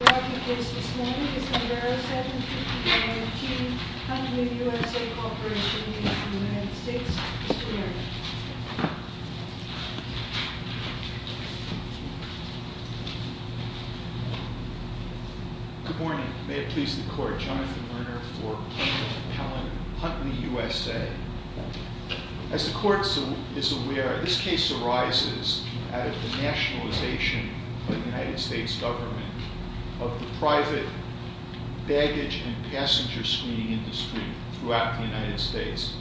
Good morning. May it please the Court, Jonathan Lerner v. Pellin, Huntley USA. As the Court is aware, this case arises out of the nationalization by the United States government of the private baggage and passenger screening industry throughout the United States.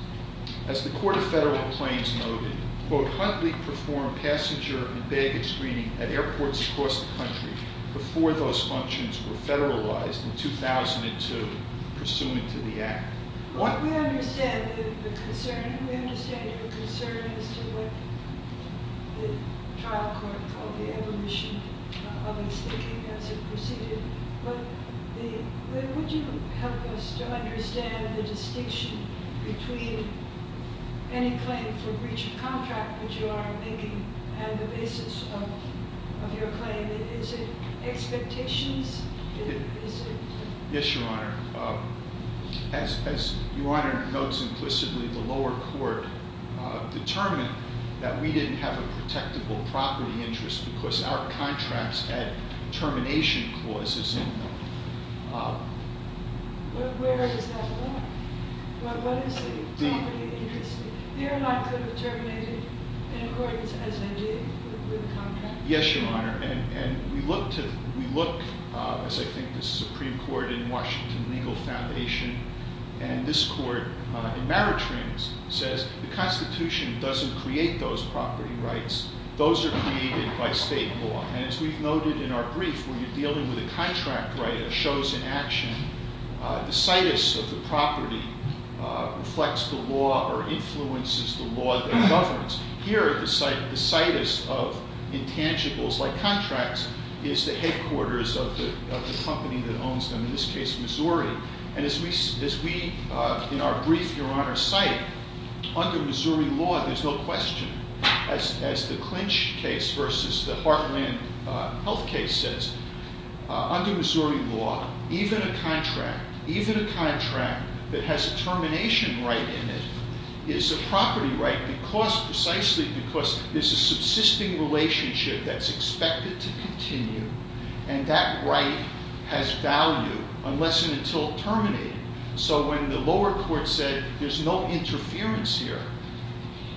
As the Court of Federal Complaints noted, quote, Huntley performed passenger and baggage screening at airports across the country before those functions were federalized in 2002 pursuant to the Act. We understand the concern. We understand your concern as to what the trial court called the evolution of its thinking as it proceeded. Would you help us to understand the distinction between any claim for breach of contract that you are making and the basis of your claim? Is it expectations? Yes, Your Honor. As Your Honor notes implicitly, the lower court determined that we didn't have a protectable property interest because our contracts had termination clauses in them. But where is that law? What is the property interest? They are not going to terminate in accordance as they did with the contract? Yes, Your Honor. And we look to, we look, as I think the Supreme Court in Washington Legal Foundation and this Court in Meritrains says, the Constitution doesn't create those property rights. Those are created by state law. And as we've noted in our brief, when you're dealing with a contract right, a chosen action, the situs of the property reflects the law or influences the law that governs. Here, the situs of intangibles like contracts is the headquarters of the company that owns them, in this case Missouri. And as we, in our brief, Your Honor, cite, under Missouri law, there's no question, as the Clinch case versus the Heartland Health case says, under Missouri law, even a contract, even a contract that has a termination right in it, is a property right because, precisely because there's a subsisting relationship that's expected to continue. And that right has value unless and until terminated. So when the lower court said there's no interference here,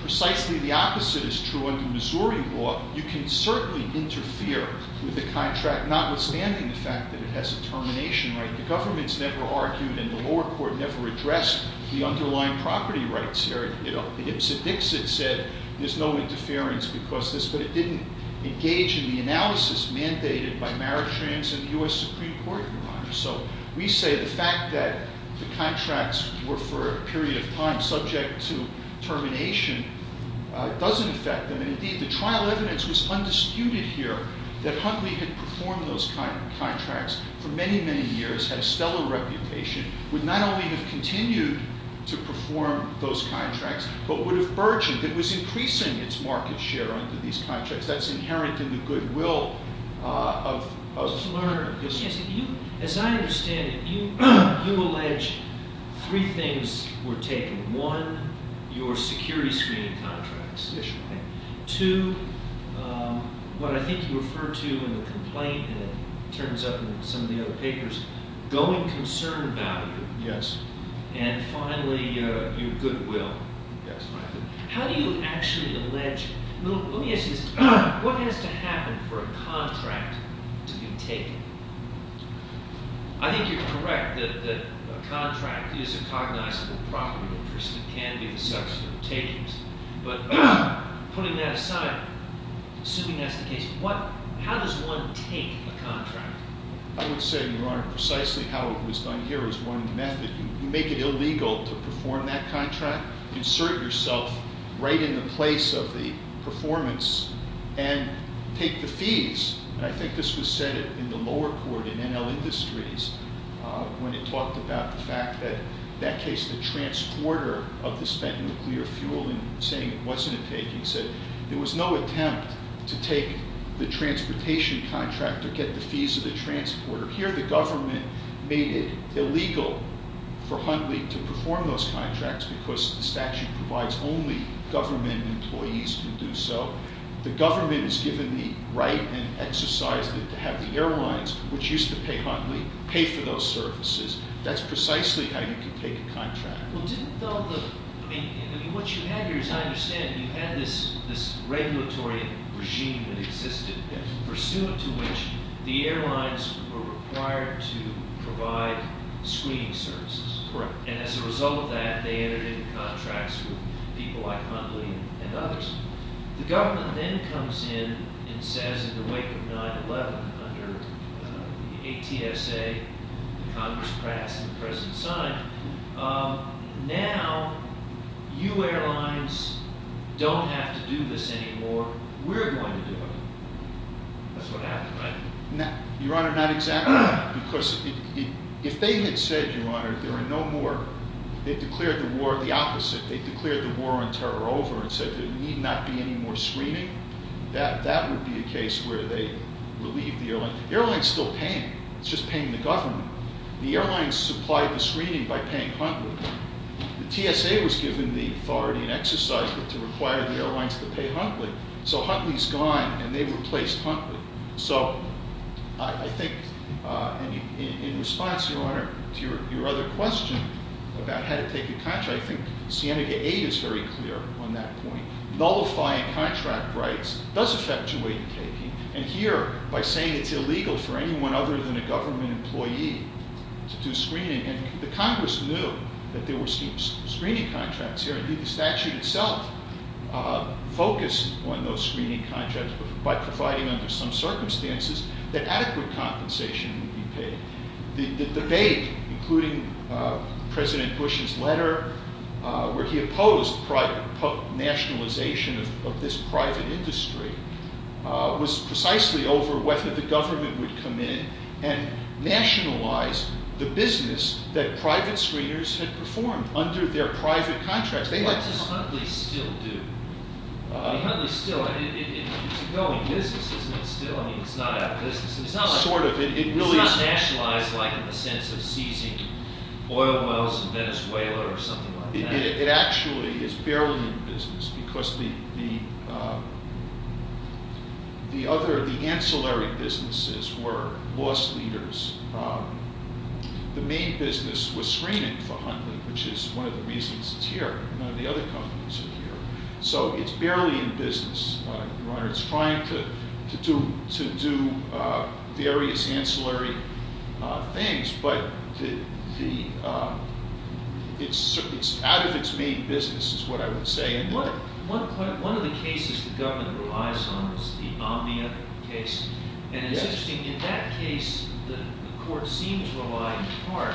precisely the opposite is true under Missouri law. You can certainly interfere with the contract, notwithstanding the fact that it has a termination right. The government's never argued and the lower court never addressed the underlying property rights here. It said there's no interference because of this, but it didn't engage in the analysis mandated by Maritrans and the U.S. Supreme Court, Your Honor. So we say the fact that the contracts were for a period of time subject to termination doesn't affect them. And indeed, the trial evidence was undisputed here that Huntley had performed those contracts for many, many years, had a stellar reputation, would not only have continued to perform those contracts, but would have burgeoned. It was increasing its market share under these contracts. That's inherent in the goodwill of the lawyer. As I understand it, you allege three things were taken. One, your security screening contracts. Yes, Your Honor. Okay. Two, what I think you referred to in the complaint and it turns up in some of the other papers, going concern value. Yes. And finally, your goodwill. Yes, Your Honor. How do you actually allege? Let me ask you this. What has to happen for a contract to be taken? I think you're correct that a contract is a cognizable property interest. It can be the subject of takings. But putting that aside, assuming that's the case, how does one take a contract? I would say, Your Honor, precisely how it was done here is one method. You make it illegal to perform that contract, insert yourself right in the place of the performance, and take the fees. And I think this was said in the lower court in NL Industries when it talked about the fact that, in that case, the transporter of the spent nuclear fuel and saying it wasn't a taking, said there was no attempt to take the transportation contract or get the fees of the transporter. Here the government made it illegal for Huntley to perform those contracts because the statute provides only government employees can do so. The government is given the right and exercised it to have the airlines, which used to pay Huntley, pay for those services. That's precisely how you could take a contract. What you had here, as I understand, you had this regulatory regime that existed, pursuant to which the airlines were required to provide screening services. And as a result of that, they entered into contracts with people like Huntley and others. The government then comes in and says, in the wake of 9-11, under the ATSA, the Congress passed and the President signed, now you airlines don't have to do this anymore. We're going to do it. That's what happened, right? Your Honor, not exactly. Because if they had said, Your Honor, there are no more, they declared the war the opposite. They declared the war on terror over and said there need not be any more screening. That would be a case where they relieved the airlines. The airlines are still paying. It's just paying the government. The airlines supplied the screening by paying Huntley. The TSA was given the authority and exercised it to require the airlines to pay Huntley. So Huntley's gone and they replaced Huntley. So I think, in response, Your Honor, to your other question about how to take a contract, I think Sienega 8 is very clear on that point. Nullifying contract rights does affect your way of taking. And here, by saying it's illegal for anyone other than a government employee to do screening, and the Congress knew that there were screening contracts here. Indeed, the statute itself focused on those screening contracts by providing under some circumstances that adequate compensation would be paid. The debate, including President Bush's letter where he opposed nationalization of this private industry, was precisely over whether the government would come in and nationalize the business that private screeners had performed under their private contracts. What does Huntley still do? Huntley's still, it's a going business, isn't it, still? I mean, it's not out of business. It's not nationalized like in the sense of seizing oil wells in Venezuela or something like that. It actually is barely in business because the other, the ancillary businesses were loss So it's barely in business, Your Honor. It's trying to do various ancillary things. But it's out of its main business is what I would say. One of the cases the government relies on is the Omnia case. And it's interesting, in that case, the court seemed to rely in part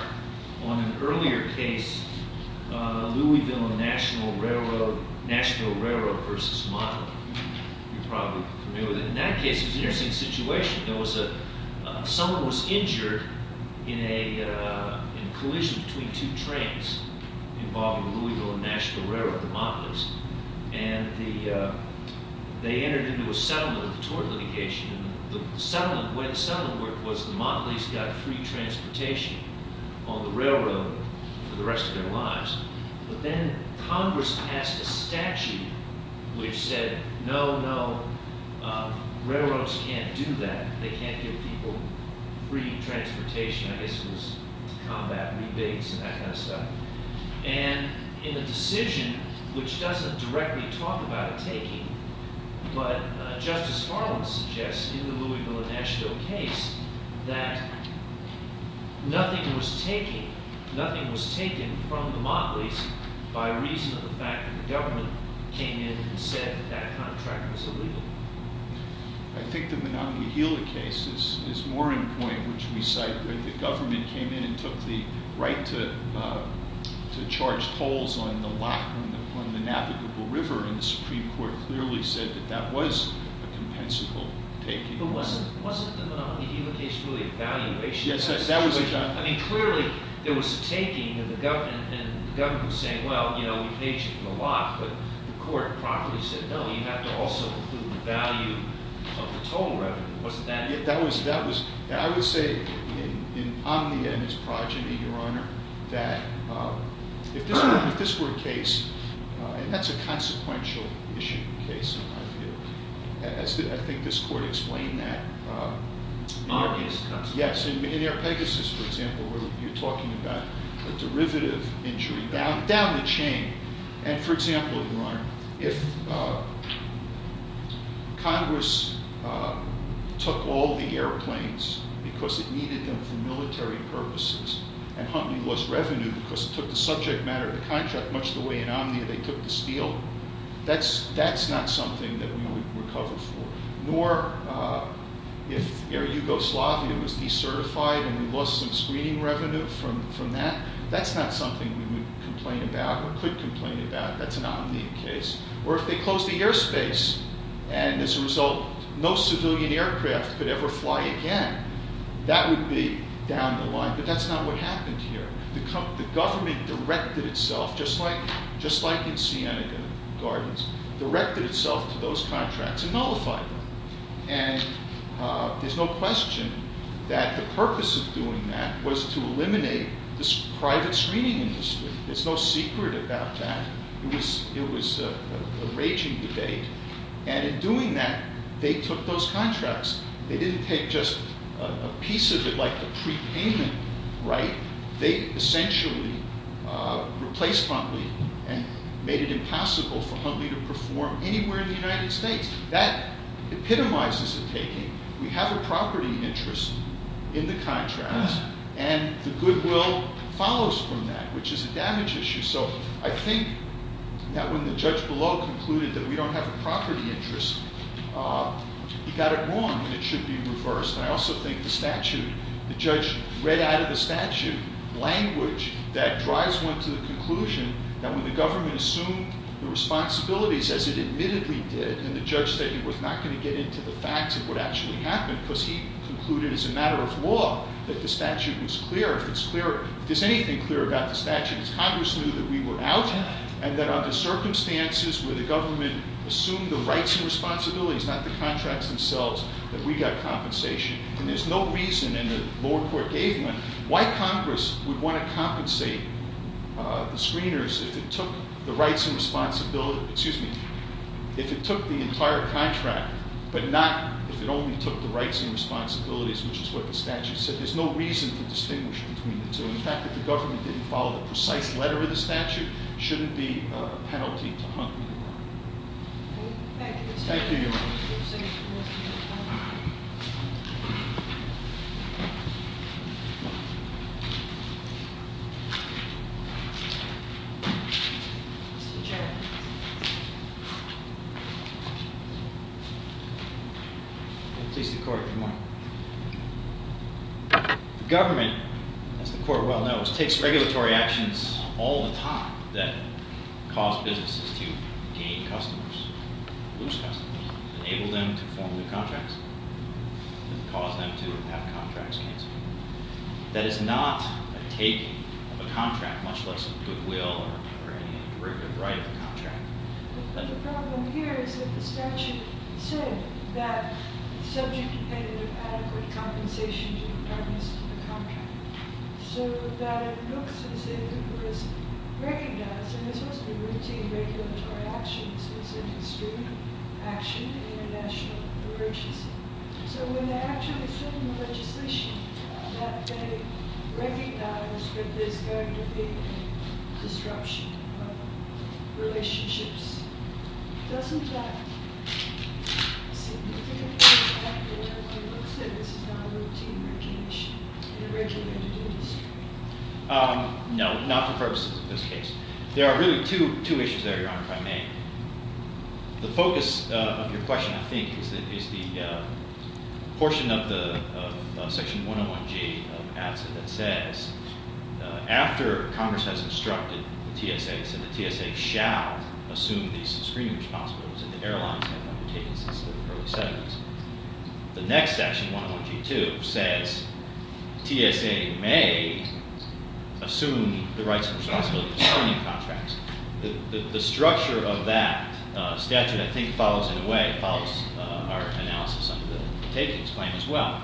on an earlier case, Louisville National Railroad versus Motley. You're probably familiar with it. In that case, it was an interesting situation. Someone was injured in a collision between two trains involving the Louisville National Railroad, and the Motley's. And they entered into a settlement, a tort litigation. The way the settlement worked was the Motley's got free transportation on the railroad for the rest of their lives. But then Congress passed a statute which said, no, no, railroads can't do that. They can't give people free transportation. I guess it was combat rebates and that kind of stuff. And in the decision, which doesn't directly talk about a taking, but Justice Harlan suggests in the Louisville and Nashville case, that nothing was taken from the Motley's by reason of the fact that the government came in and said that that contract was illegal. I think the Monongahela case is more in point, which we cite, where the government came in and took the right to charge tolls on the navigable river. And the Supreme Court clearly said that that was a compensable taking. But wasn't the Monongahela case really a valuation? Yes, that was a valuation. I mean, clearly, there was a taking, and the government was saying, well, you know, we paid you for the lot. But the court promptly said, no, you have to also include the value of the toll revenue. Wasn't that it? I would say in Omnia and his progeny, Your Honor, that if this were a case, and that's a consequential issue case in my view. I think this court explained that. In our case it's consequential. Yes, in our Pegasus, for example, where you're talking about a derivative injury down the chain. And, for example, Your Honor, if Congress took all the airplanes because it needed them for military purposes, and Huntley lost revenue because it took the subject matter of the contract much the way in Omnia they took the steel, that's not something that we would recover for. Nor if Air Yugoslavia was decertified and we lost some screening revenue from that, that's not something we would complain about or could complain about. That's an Omnia case. Or if they closed the airspace and as a result no civilian aircraft could ever fly again, that would be down the line. But that's not what happened here. The government directed itself, just like in Siena Gardens, directed itself to those contracts and nullified them. And there's no question that the purpose of doing that was to eliminate this private screening industry. There's no secret about that. It was a raging debate. And in doing that, they took those contracts. They didn't take just a piece of it like a prepayment, right? They essentially replaced Huntley and made it impossible for Huntley to perform anywhere in the United States. That epitomizes the taking. We have a property interest in the contract, and the goodwill follows from that, which is a damage issue. So I think that when the judge below concluded that we don't have a property interest, he got it wrong and it should be reversed. And I also think the statute, the judge read out of the statute language that drives one to the conclusion that when the government assumed the responsibilities, as it admittedly did, and the judge said he was not going to get into the facts of what actually happened, because he concluded as a matter of law that the statute was clear. If it's clear, if there's anything clear about the statute, it's Congress knew that we were out, and that under circumstances where the government assumed the rights and responsibilities, not the contracts themselves, that we got compensation. And there's no reason, and the lower court gave one, why Congress would want to compensate the screeners if it took the rights and responsibilities, excuse me, if it took the entire contract, but not if it only took the rights and responsibilities, which is what the statute said. There's no reason to distinguish between the two. In fact, if the government didn't follow the precise letter of the statute, it shouldn't be a penalty to Huntley. Thank you, Your Honor. Mr. Chairman. Please, the court, come on. The government, as the court well knows, takes regulatory actions all the time that cause businesses to gain customers, lose customers, enable them to form new contracts, and cause them to have contracts canceled. That is not a taking of a contract, much less a goodwill or any derivative right of a contract. But the problem here is that the statute said that the subject depended on adequate compensation to the partners of the contract, so that it looks as if it was recognized, and this wasn't a routine regulatory action. This was an extreme action in a national emergency. So when they actually sit in the legislation, that they recognize that there's going to be a disruption of relationships, doesn't that seem to be a factor in the way it looks, that this is not a routine regulation in a regulated industry? No, not the first case. There are really two issues there, Your Honor, if I may. The focus of your question, I think, is the portion of the section 101G of ATSA that says, after Congress has instructed the TSA, it said the TSA shall assume these screening responsibilities, and the airlines have undertaken this since the early 70s. The next section, 101G2, says TSA may assume the rights and responsibilities of screening contracts. The structure of that statute, I think, follows in a way, it follows our analysis under the takings claim as well.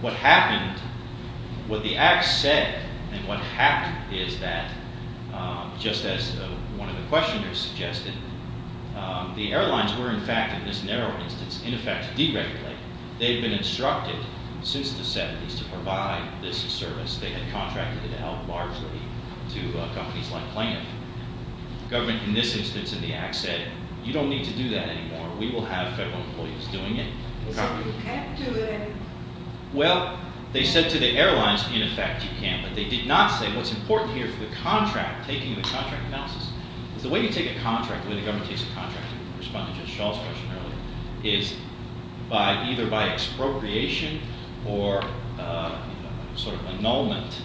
What happened, what the Act said, and what happened is that, just as one of the questioners suggested, the airlines were, in fact, in this narrow instance, in effect, deregulated. They've been instructed since the 70s to provide this service. They had contracted it out largely to companies like Plano. Government, in this instance in the Act, said, you don't need to do that anymore. We will have federal employees doing it. So you can't do it? Well, they said to the airlines, in effect, you can, but they did not say what's important here for the contract, taking the contract analysis, is the way you take a contract, the way the government takes a contract, in response to just Shaw's question earlier, is either by expropriation or sort of annulment,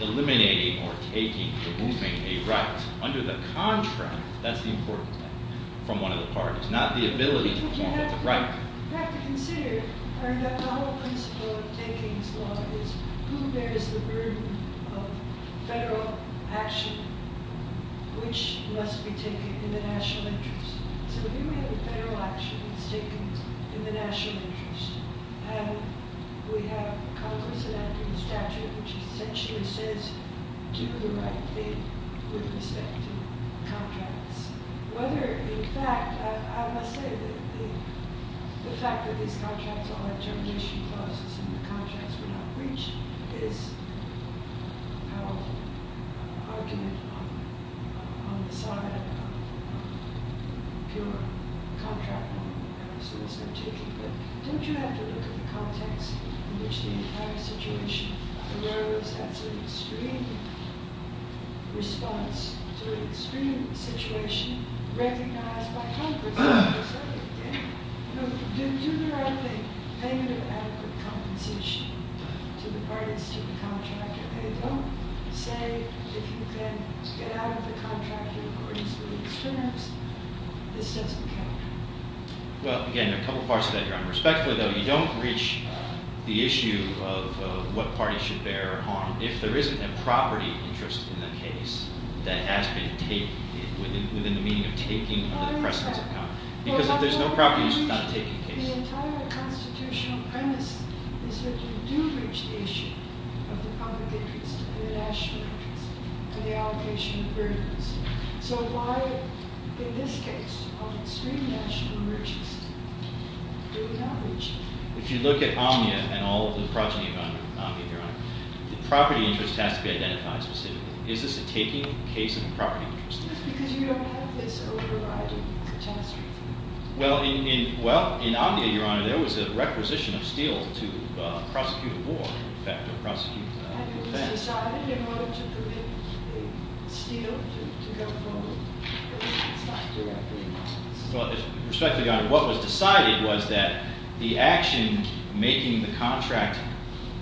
eliminating or taking or removing a right under the contract, that's the important thing from one of the parties, not the ability to call it a right. But you have to consider, the whole principle of taking this law is, who bears the burden of federal action, which must be taken in the national interest. So here we have a federal action that's taken in the national interest, and we have Congress enacting a statute which essentially says, do the right thing with respect to contracts. Whether, in fact, I must say, the fact that these contracts are on termination clauses and the contracts were not breached, is an argument on the side of pure contract law. But don't you have to look at the context in which the entire situation arose, that's an extreme response to an extreme situation recognized by Congress. Do the right thing. Negative adequate compensation to the parties, to the contractor. They don't say, if you can get out of the contract in accordance with these terms, this doesn't count. Well, again, a couple parts to that, respectfully though, you don't reach the issue of what parties should bear harm. If there isn't a property interest in the case that has been taken, within the meaning of taking, then the precedents have come. Because if there's no property interest, it's not a taken case. The entire constitutional premise is that you do reach the issue of the public interest and the national interest and the allocation of burdens. So why, in this case, of extreme national interest, do we not reach it? If you look at Omnia and all of the progeny of Omnia, the property interest has to be identified specifically. Is this a taking case of a property interest? Because you don't have this overriding statutory thing. Well, in Omnia, Your Honor, there was a requisition of steel to prosecute a war, in effect, or prosecute a ban. And it was decided in order to permit steel to go forward. It's not directly in Congress. Respectfully, Your Honor, what was decided was that the action making the contract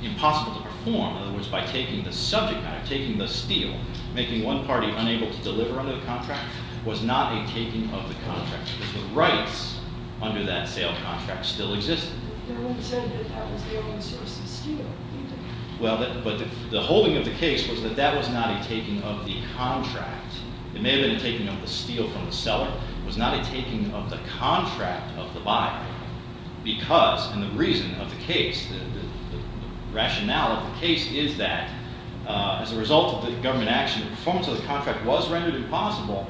impossible to perform, in other words, by taking the subject matter, taking the steel, making one party unable to deliver under the contract, was not a taking of the contract because the rights under that sale contract still existed. Your Honor, you said that that was the only source of steel. Well, but the holding of the case was that that was not a taking of the contract. It may have been a taking of the steel from the seller. It was not a taking of the contract of the buyer because, and the reason of the case, the rationale of the case is that as a result of the government action, the performance of the contract was rendered impossible,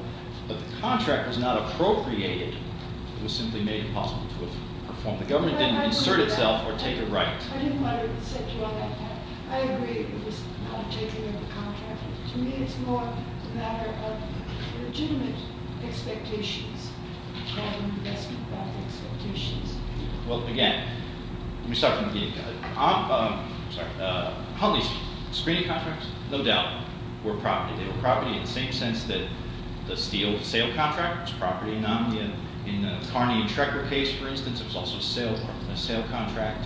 but the contract was not appropriated. It was simply made impossible to perform. The government didn't insert itself or take a right. I didn't want to set you on that path. I agree it was not a taking of the contract. To me, it's more a matter of legitimate expectations rather than investment-backed expectations. Well, again, let me start from the beginning. Huntley's screening contracts, no doubt, were property. They were property in the same sense that the steel sale contract was property. In the Carney and Trecker case, for instance, it was also a sale contract.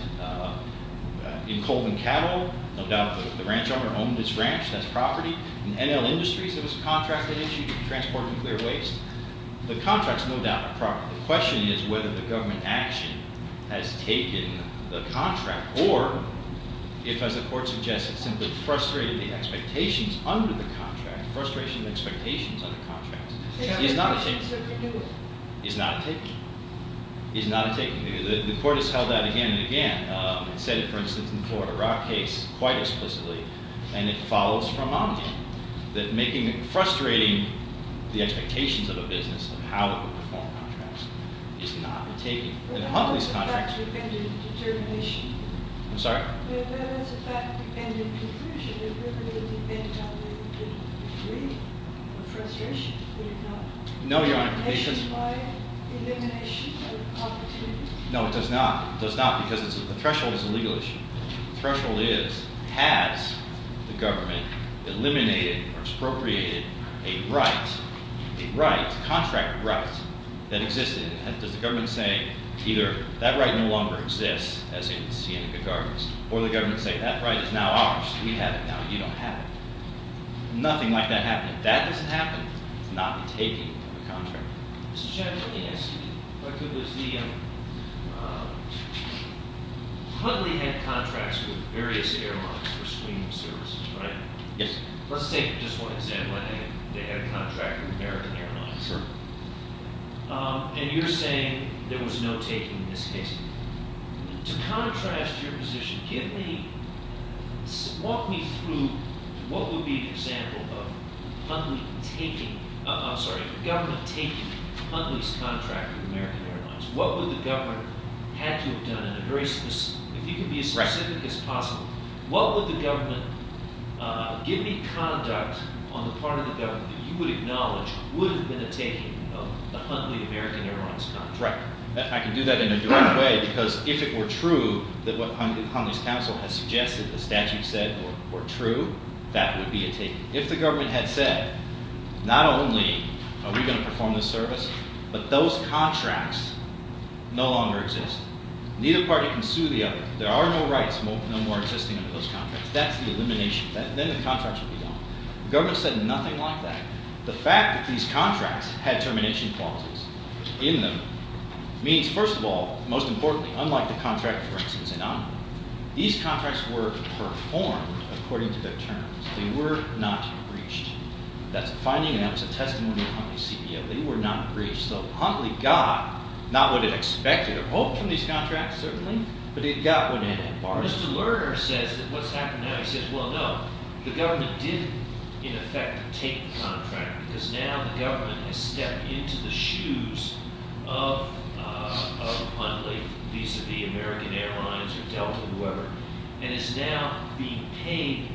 In Colvin Cattle, no doubt the ranch owner owned his ranch. That's property. In NL Industries, there was a contract that issued to transport nuclear waste. The contract's no doubt a property. The question is whether the government action has taken the contract or if, as the Court suggests, it simply frustrated the expectations under the contract, frustration of expectations under contracts. It's not a taking. It's not a taking. It's not a taking. The Court has held that again and again. It said it, for instance, in the Florida Rock case quite explicitly, and it follows from Montague, that frustrating the expectations of a business of how it would perform contracts is not a taking. And Huntley's contract- But that's a fact-dependent determination. I'm sorry? But that's a fact-dependent conclusion. It really depends on whether you can agree or frustration. Would it not? No, Your Honor, because- Is it by elimination of opportunity? No, it does not. It does not because the threshold is a legal issue. The threshold is has the government eliminated or expropriated a right, a right, contract right, that existed? Does the government say either that right no longer exists, as in Sienna-Gagarin's, or the government say that right is now ours, we have it now and you don't have it? Nothing like that happened. If that doesn't happen, it's not a taking of the contract. Mr. Chairman, let me ask you. The Huntley had contracts with various airlines for screening services, right? Yes. Let's take just one example. I think they had a contract with American Airlines. Sure. And you're saying there was no taking in this case. To contrast your position, give me- walk me through what would be an example of Huntley taking- what would the government have to have done in a very specific- if you could be as specific as possible, what would the government- give me conduct on the part of the government that you would acknowledge would have been a taking of the Huntley-American Airlines contract. Right. I can do that in a direct way because if it were true that what Huntley's counsel has suggested, the statute said were true, that would be a taking. If the government had said, not only are we going to perform this service, but those contracts no longer exist. Neither party can sue the other. There are no rights no more existing under those contracts. That's the elimination. Then the contracts would be gone. The government said nothing like that. The fact that these contracts had termination clauses in them means, first of all, most importantly, unlike the contract, for instance, in Amman, these contracts were performed according to their terms. They were not breached. That's a finding and that's a testimony of Huntley's CBO. They were not breached. So Huntley got not what it expected or hoped from these contracts, certainly, but it got what it borrowed. Mr. Lerner says that what's happened now, he says, well, no, the government did in effect take the contract because now the government has stepped into the shoes of Huntley vis-à-vis American Airlines or Delta or whoever and is now being paid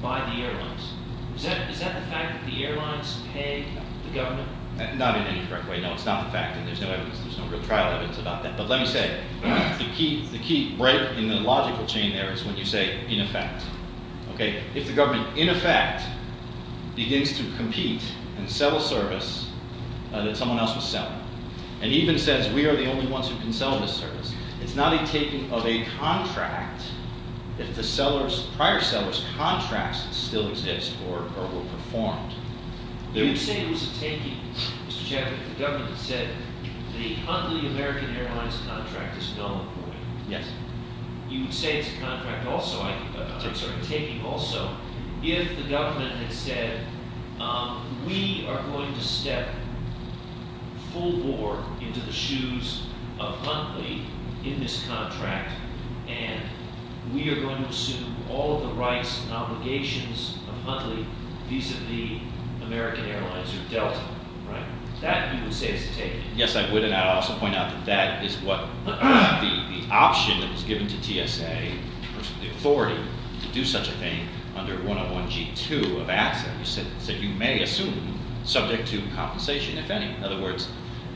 by the airlines. Is that the fact that the airlines paid the government? Not in any correct way. No, it's not the fact, and there's no evidence. There's no real trial evidence about that. But let me say, the key break in the logical chain there is when you say in effect. Okay? If the government in effect begins to compete and sell a service that someone else was selling and even says we are the only ones who can sell this service, it's not a taking of a contract if the prior seller's contracts still exist or were performed. You would say it was a taking, Mr. Chapman, if the government had said the Huntley American Airlines contract is null and void. Yes. You would say it's a contract also, I'm sorry, a taking also, if the government had said we are going to step full bore into the shoes of Huntley in this contract and we are going to assume all of the rights and obligations of Huntley vis-à-vis American Airlines or Delta. Right? That you would say is a taking. Yes, I would, and I would also point out that that is what the option that was given to TSA, the authority to do such a thing under 101G2 of ASSA, you said you may assume subject to compensation if any. In other words,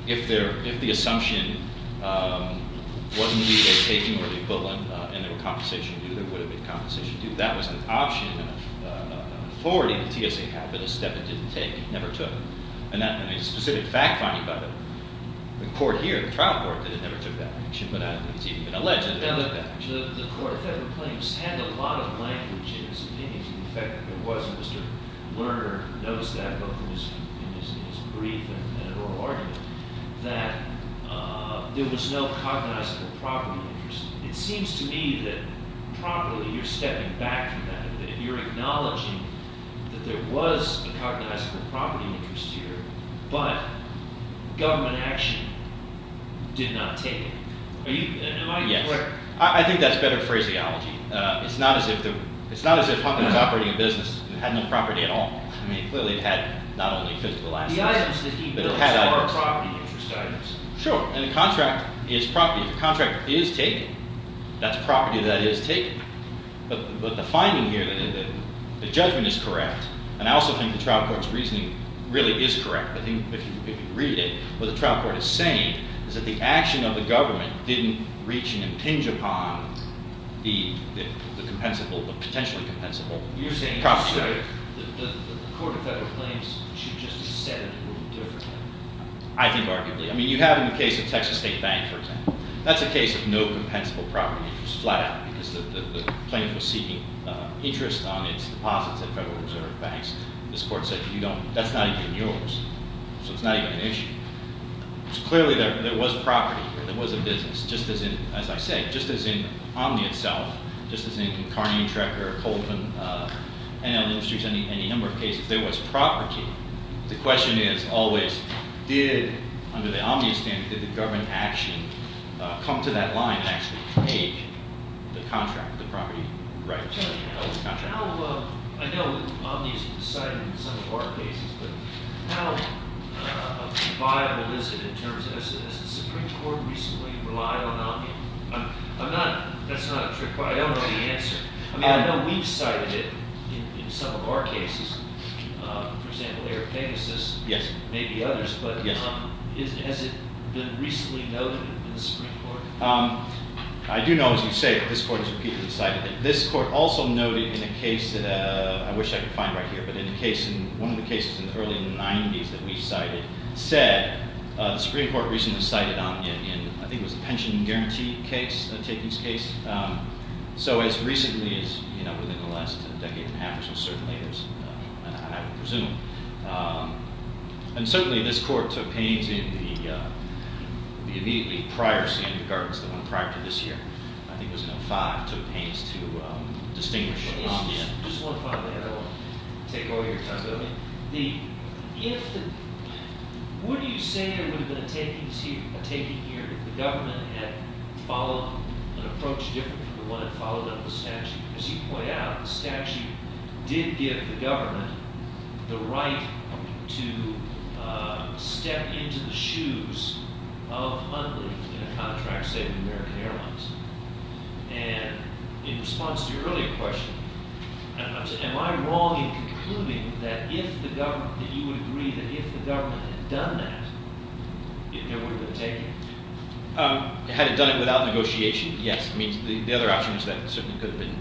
if the assumption wasn't to be a taking or the equivalent and there was compensation due, there would have been compensation due. That was an option and an authority that TSA had, but a step it didn't take. It never took. And a specific fact finding by the court here, the trial court, that it never took that action, but it's even been alleged that it never took that action. The Court of Federal Claims had a lot of language in its opinions. In fact, there was, and Mr. Lerner knows that both in his brief and oral argument, that there was no cognizable property interest. It seems to me that probably you're stepping back from that, that you're acknowledging that there was a cognizable property interest here, but government action did not take it. Am I clear? Yes. I think that's better phraseology. It's not as if Huffington was operating a business that had no property at all. I mean, clearly it had not only physical assets, but it had others. The items that he built are property interest items. Sure, and the contract is property. The contract is taken. That's property that is taken. But the finding here, the judgment is correct, and I also think the trial court's reasoning really is correct. I think if you read it, what the trial court is saying is that the action of the government didn't reach and impinge upon the compensable, the potentially compensable property. You're saying that the Court of Federal Claims should just have said it a little differently. I think arguably. I mean, you have in the case of Texas State Bank, for example. That's a case of no compensable property interest, flat out, because the plaintiff was seeking interest on its deposits at Federal Reserve Banks. This court said that's not even yours, so it's not even an issue. So clearly there was property here. There was a business, just as in, as I said, just as in Omni itself, just as in Karnian, Trecker, Colvin, NL Industries, any number of cases. There was property. The question is always did, under the Omni standard, did the government action come to that line and actually take the contract, the property? Right. I know Omni is cited in some of our cases, but how viable is it in terms of, has the Supreme Court recently relied on Omni? I'm not, that's not a trick question. I don't know the answer. I mean, I know we've cited it in some of our cases. For example, Eric Pegasus. Yes. Maybe others, but has it been recently noted in the Supreme Court? I do know, as you say, that this court has repeatedly cited it. This court also noted in a case that I wish I could find right here, but in a case, one of the cases in the early 90s that we cited, said the Supreme Court recently cited Omni in, I think it was a pension guarantee case, a takings case. So as recently as, you know, within the last decade and a half or so, certainly there's, I would presume, and certainly this court took pains in the immediately prior standard guards, the one prior to this year, I think it was in 05, took pains to distinguish what Omni is. Just one final thing, I don't want to take all your time. Would you say it would have been a taking here if the government had followed an approach different from the one that followed up the statute? As you point out, the statute did give the government the right to step into the shoes of Omni in a contract, say, with American Airlines. And in response to your earlier question, am I wrong in concluding that if the government, that you would agree that if the government had done that, it would have been a taking? Had it done it without negotiation, yes. I mean, the other option is that it certainly could have been,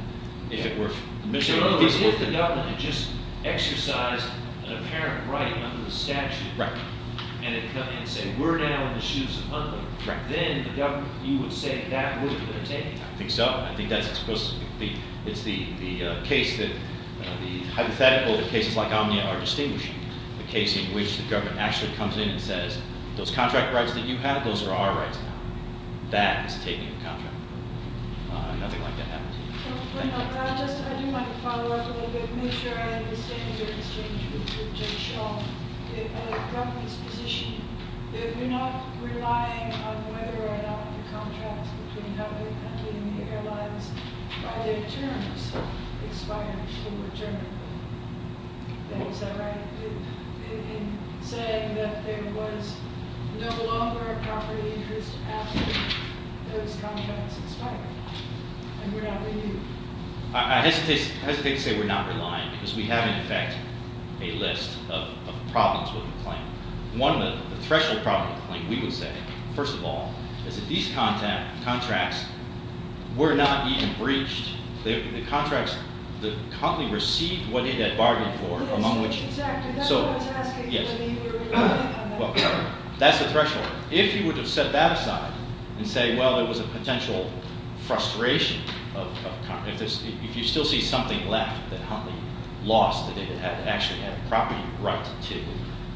if it were admissible. No, but if the government had just exercised an apparent right under the statute and had come in and said, we're now in the shoes of Omni, then the government, you would say that would have been a taking. I think so. I think that's the hypothetical that cases like Omni are distinguishing, the case in which the government actually comes in and says, those contract rights that you have, those are our rights now. That is taking a contract. Nothing like that happens. I do want to follow up a little bit and make sure I understand your exchange with Jay Shaw. From his position, we're not relying on whether or not the contracts between the government and the airlines by their terms expired or were terminated. Is that right? In saying that there was no longer a property interest after those contracts expired. And we're not leaving. I hesitate to say we're not relying because we have in effect a list of problems with the claim. One of the threshold problems with the claim, we would say, first of all, is that these contracts were not even breached. The contracts, Huntley received what it had bargained for. Yes, exactly. That's what I was asking. Yes. Well, that's the threshold. If you were to set that aside and say, well, it was a potential frustration, if you still see something left that Huntley lost that it had actually had a property right to,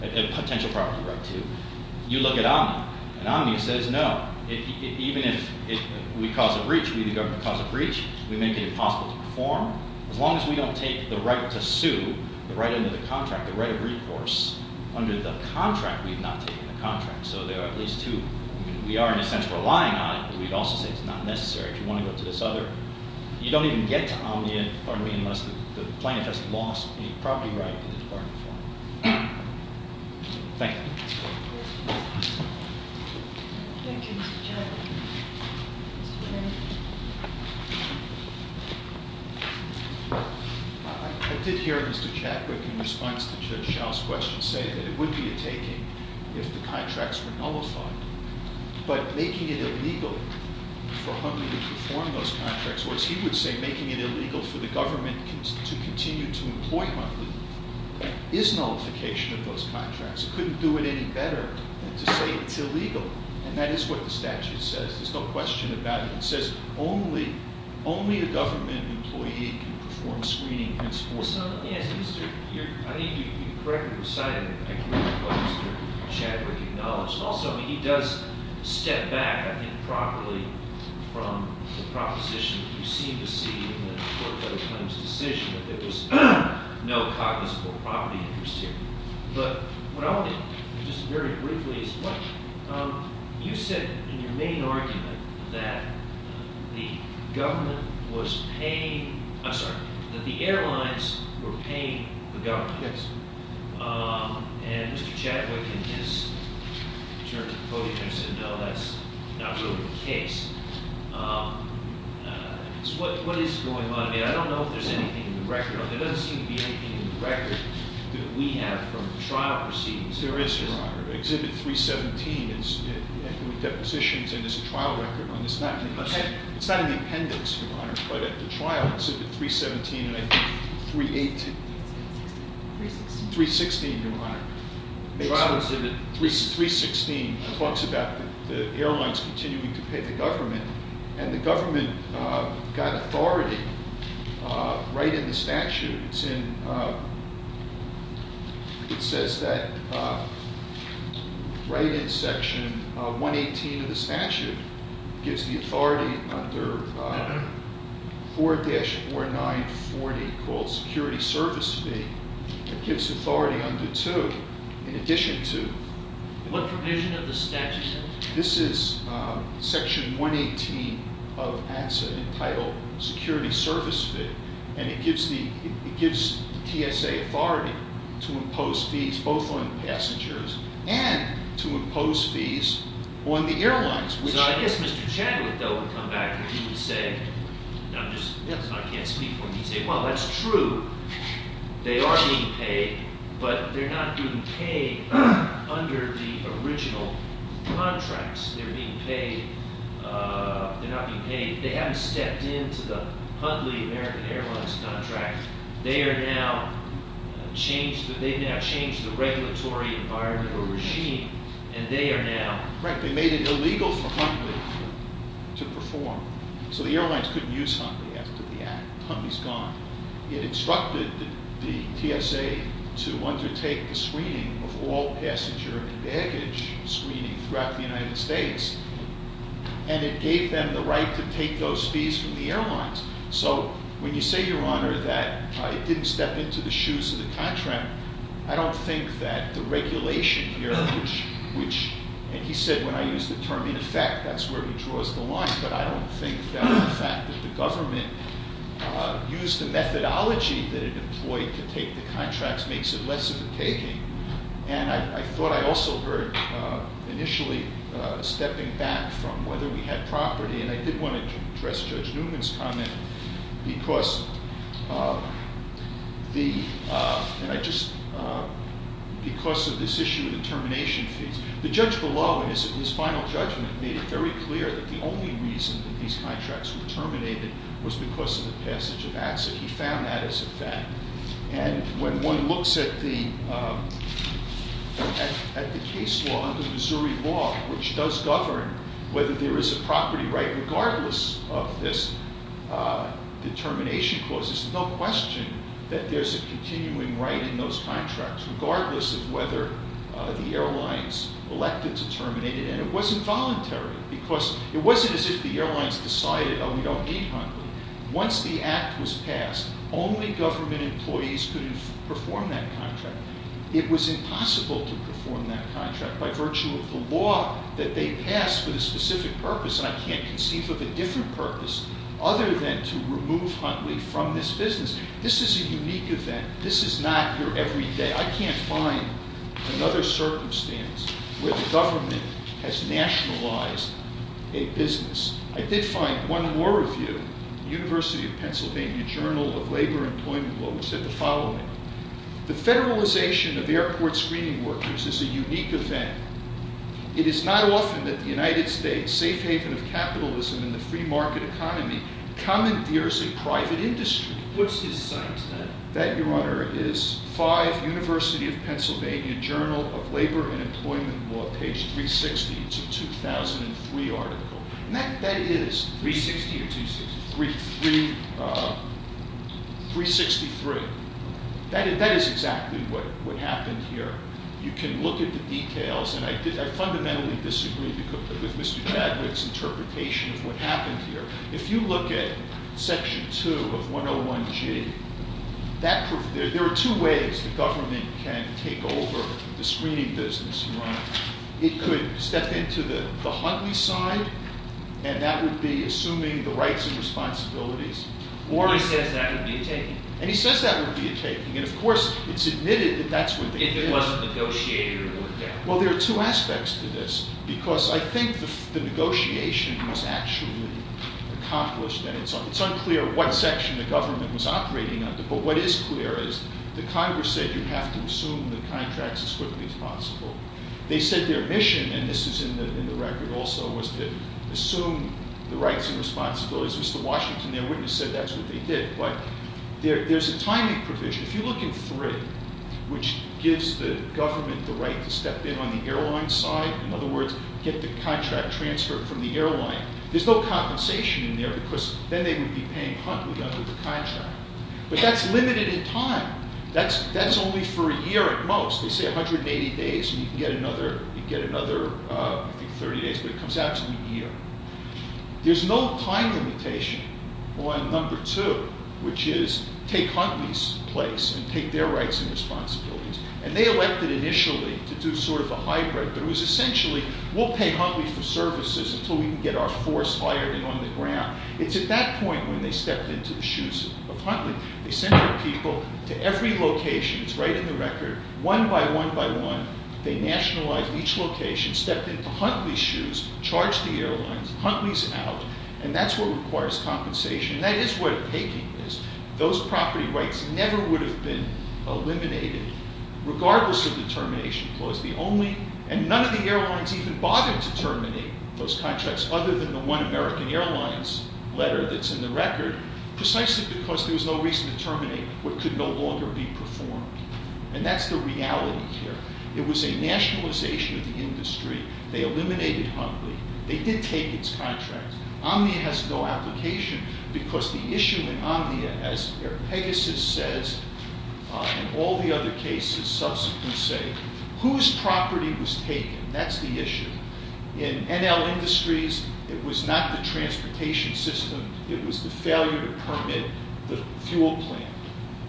a potential property right to, you look at Omnia. And Omnia says, no, even if we cause a breach, we the government cause a breach, we make it impossible to perform. As long as we don't take the right to sue, the right under the contract, the right of recourse under the contract we've not taken the contract. So there are at least two. We are, in a sense, relying on it, but we'd also say it's not necessary. If you want to go to this other, you don't even get to Omnia, pardon me, unless the plaintiff has lost a property right in the Department of Foreign Affairs. Thank you. I did hear Mr. Chadwick in response to Judge Schell's question say that it would be a taking if the contracts were nullified. But making it illegal for Huntley to perform those contracts, he would say making it illegal for the government to continue to employ Huntley is nullification of those contracts. It couldn't do it any better than to say it's illegal. And that is what the statute says. There's no question about it. It says only a government employee can perform screening henceforth. So let me ask you, I think you correctly recited what Mr. Chadwick acknowledged. Also, he does step back, I think, properly from the proposition that you seem to see in the court-filed claims decision that there's no cognizable property interest here. But what I'll do, just very briefly, is what you said in your main argument that the government was paying – I'm sorry, that the airlines were paying the government. Yes. And Mr. Chadwick, in his turn to the podium, said no, that's not really the case. What is going on here? I don't know if there's anything in the record. There doesn't seem to be anything in the record that we have from trial proceedings. There is, Your Honor. Exhibit 317, with depositions, and there's a trial record on this. Okay. It's not in the appendix, Your Honor, but at the trial, Exhibit 317 and I think 318. 316. 316, Your Honor. Trial Exhibit 316 talks about the airlines continuing to pay the government, and the government got authority right in the statute. It's in – it says that right in Section 118 of the statute, it gives the authority under 4-4940 called security service fee. It gives authority under 2, in addition to – What provision of the statute? This is Section 118 of ANSA entitled security service fee, and it gives the TSA authority to impose fees both on passengers and to impose fees on the airlines. So I guess Mr. Chadwick, though, would come back and he would say – I'm just – I can't speak for him. He'd say, well, that's true. They are being paid, but they're not being paid under the original contracts. They're being paid – they're not being paid – they haven't stepped into the Huntley American Airlines contract. They are now – they've now changed the regulatory environment or regime, and they are now – Correct. They made it illegal for Huntley to perform. So the airlines couldn't use Huntley after the act. Huntley's gone. It instructed the TSA to undertake the screening of all passenger and baggage screening throughout the United States, So when you say, Your Honor, that it didn't step into the shoes of the contract, I don't think that the regulation here, which – and he said when I used the term in effect, that's where he draws the line, but I don't think that the fact that the government used the methodology that it employed to take the contracts makes it less of a taking. And I thought I also heard initially stepping back from whether we had property, and I did want to address Judge Newman's comment because the – and I just – because of this issue of the termination fees. The judge below in his final judgment made it very clear that the only reason that these contracts were terminated was because of the passage of acts, and he found that as a fact. And when one looks at the case law, the Missouri law, which does govern whether there is a property right regardless of this determination clause, there's no question that there's a continuing right in those contracts regardless of whether the airlines elected to terminate it. And it wasn't voluntary because it wasn't as if the airlines decided, Oh, we don't need Huntley. Once the act was passed, only government employees could perform that contract. It was impossible to perform that contract by virtue of the law that they passed with a specific purpose, and I can't conceive of a different purpose other than to remove Huntley from this business. This is a unique event. This is not your everyday. I can't find another circumstance where the government has nationalized a business. I did find one more review, University of Pennsylvania Journal of Labor Employment Law, which said the following. The federalization of airport screening workers is a unique event. It is not often that the United States, safe haven of capitalism in the free market economy, commandeers a private industry. What's his son's name? That, Your Honor, is 5 University of Pennsylvania Journal of Labor and Employment Law, page 360 to 2003 article. That is 360 or 260? 363. That is exactly what happened here. You can look at the details, and I fundamentally disagree with Mr. Javits' interpretation of what happened here. If you look at section 2 of 101G, there are two ways the government can take over the screening business, Your Honor. It could step into the Huntley side, and that would be assuming the rights and responsibilities. He says that would be a taking. And he says that would be a taking. And, of course, it's admitted that that's what they did. If it wasn't negotiated or looked at. Well, there are two aspects to this, because I think the negotiation was actually accomplished, and it's unclear what section the government was operating under. But what is clear is the Congress said you have to assume the contracts as quickly as possible. They said their mission, and this is in the record also, was to assume the rights and responsibilities. Mr. Washington, their witness, said that's what they did. But there's a timing provision. If you look in 3, which gives the government the right to step in on the airline side, in other words, get the contract transferred from the airline, there's no compensation in there, because then they would be paying Huntley under the contract. But that's limited in time. That's only for a year at most. They say 180 days, and you can get another, I think, 30 days, but it comes out to a year. There's no time limitation on number 2, which is take Huntley's place and take their rights and responsibilities. And they elected initially to do sort of a hybrid, but it was essentially we'll pay Huntley for services until we can get our force fired and on the ground. It's at that point when they stepped into the shoes of Huntley. They sent their people to every location. It's right in the record. One by one by one, they nationalized each location, stepped into Huntley's shoes, charged the airlines, Huntley's out. And that's what requires compensation. And that is where the taking is. Those property rights never would have been eliminated, regardless of the termination clause. And none of the airlines even bothered to terminate those contracts other than the one American Airlines letter that's in the record, precisely because there was no reason to terminate what could no longer be performed. And that's the reality here. It was a nationalization of the industry. They eliminated Huntley. They did take its contracts. Omnia has no application because the issue in Omnia, as Pegasus says and all the other cases subsequently say, whose property was taken? That's the issue. In NL Industries, it was not the transportation system. It was the failure to permit the fuel plant.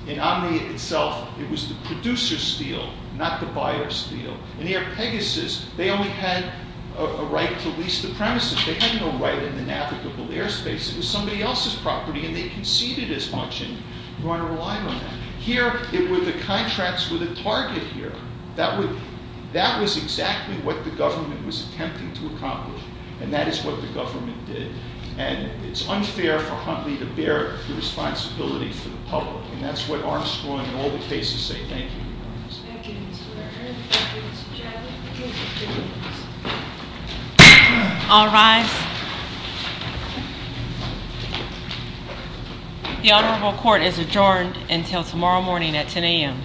In Omnia itself, it was the producer's steal, not the buyer's steal. In Pegasus, they only had a right to lease the premises. They had no right in the navigable airspace. It was somebody else's property, and they conceded as much, and you want to rely on that. Here, it was the contracts were the target here. That was exactly what the government was attempting to accomplish. And that is what the government did. And it's unfair for Huntley to bear the responsibility for the public, and that's what Armstrong and all the cases say. Thank you. Thank you. All rise. The Honorable Court is adjourned until tomorrow morning at 10 a.m.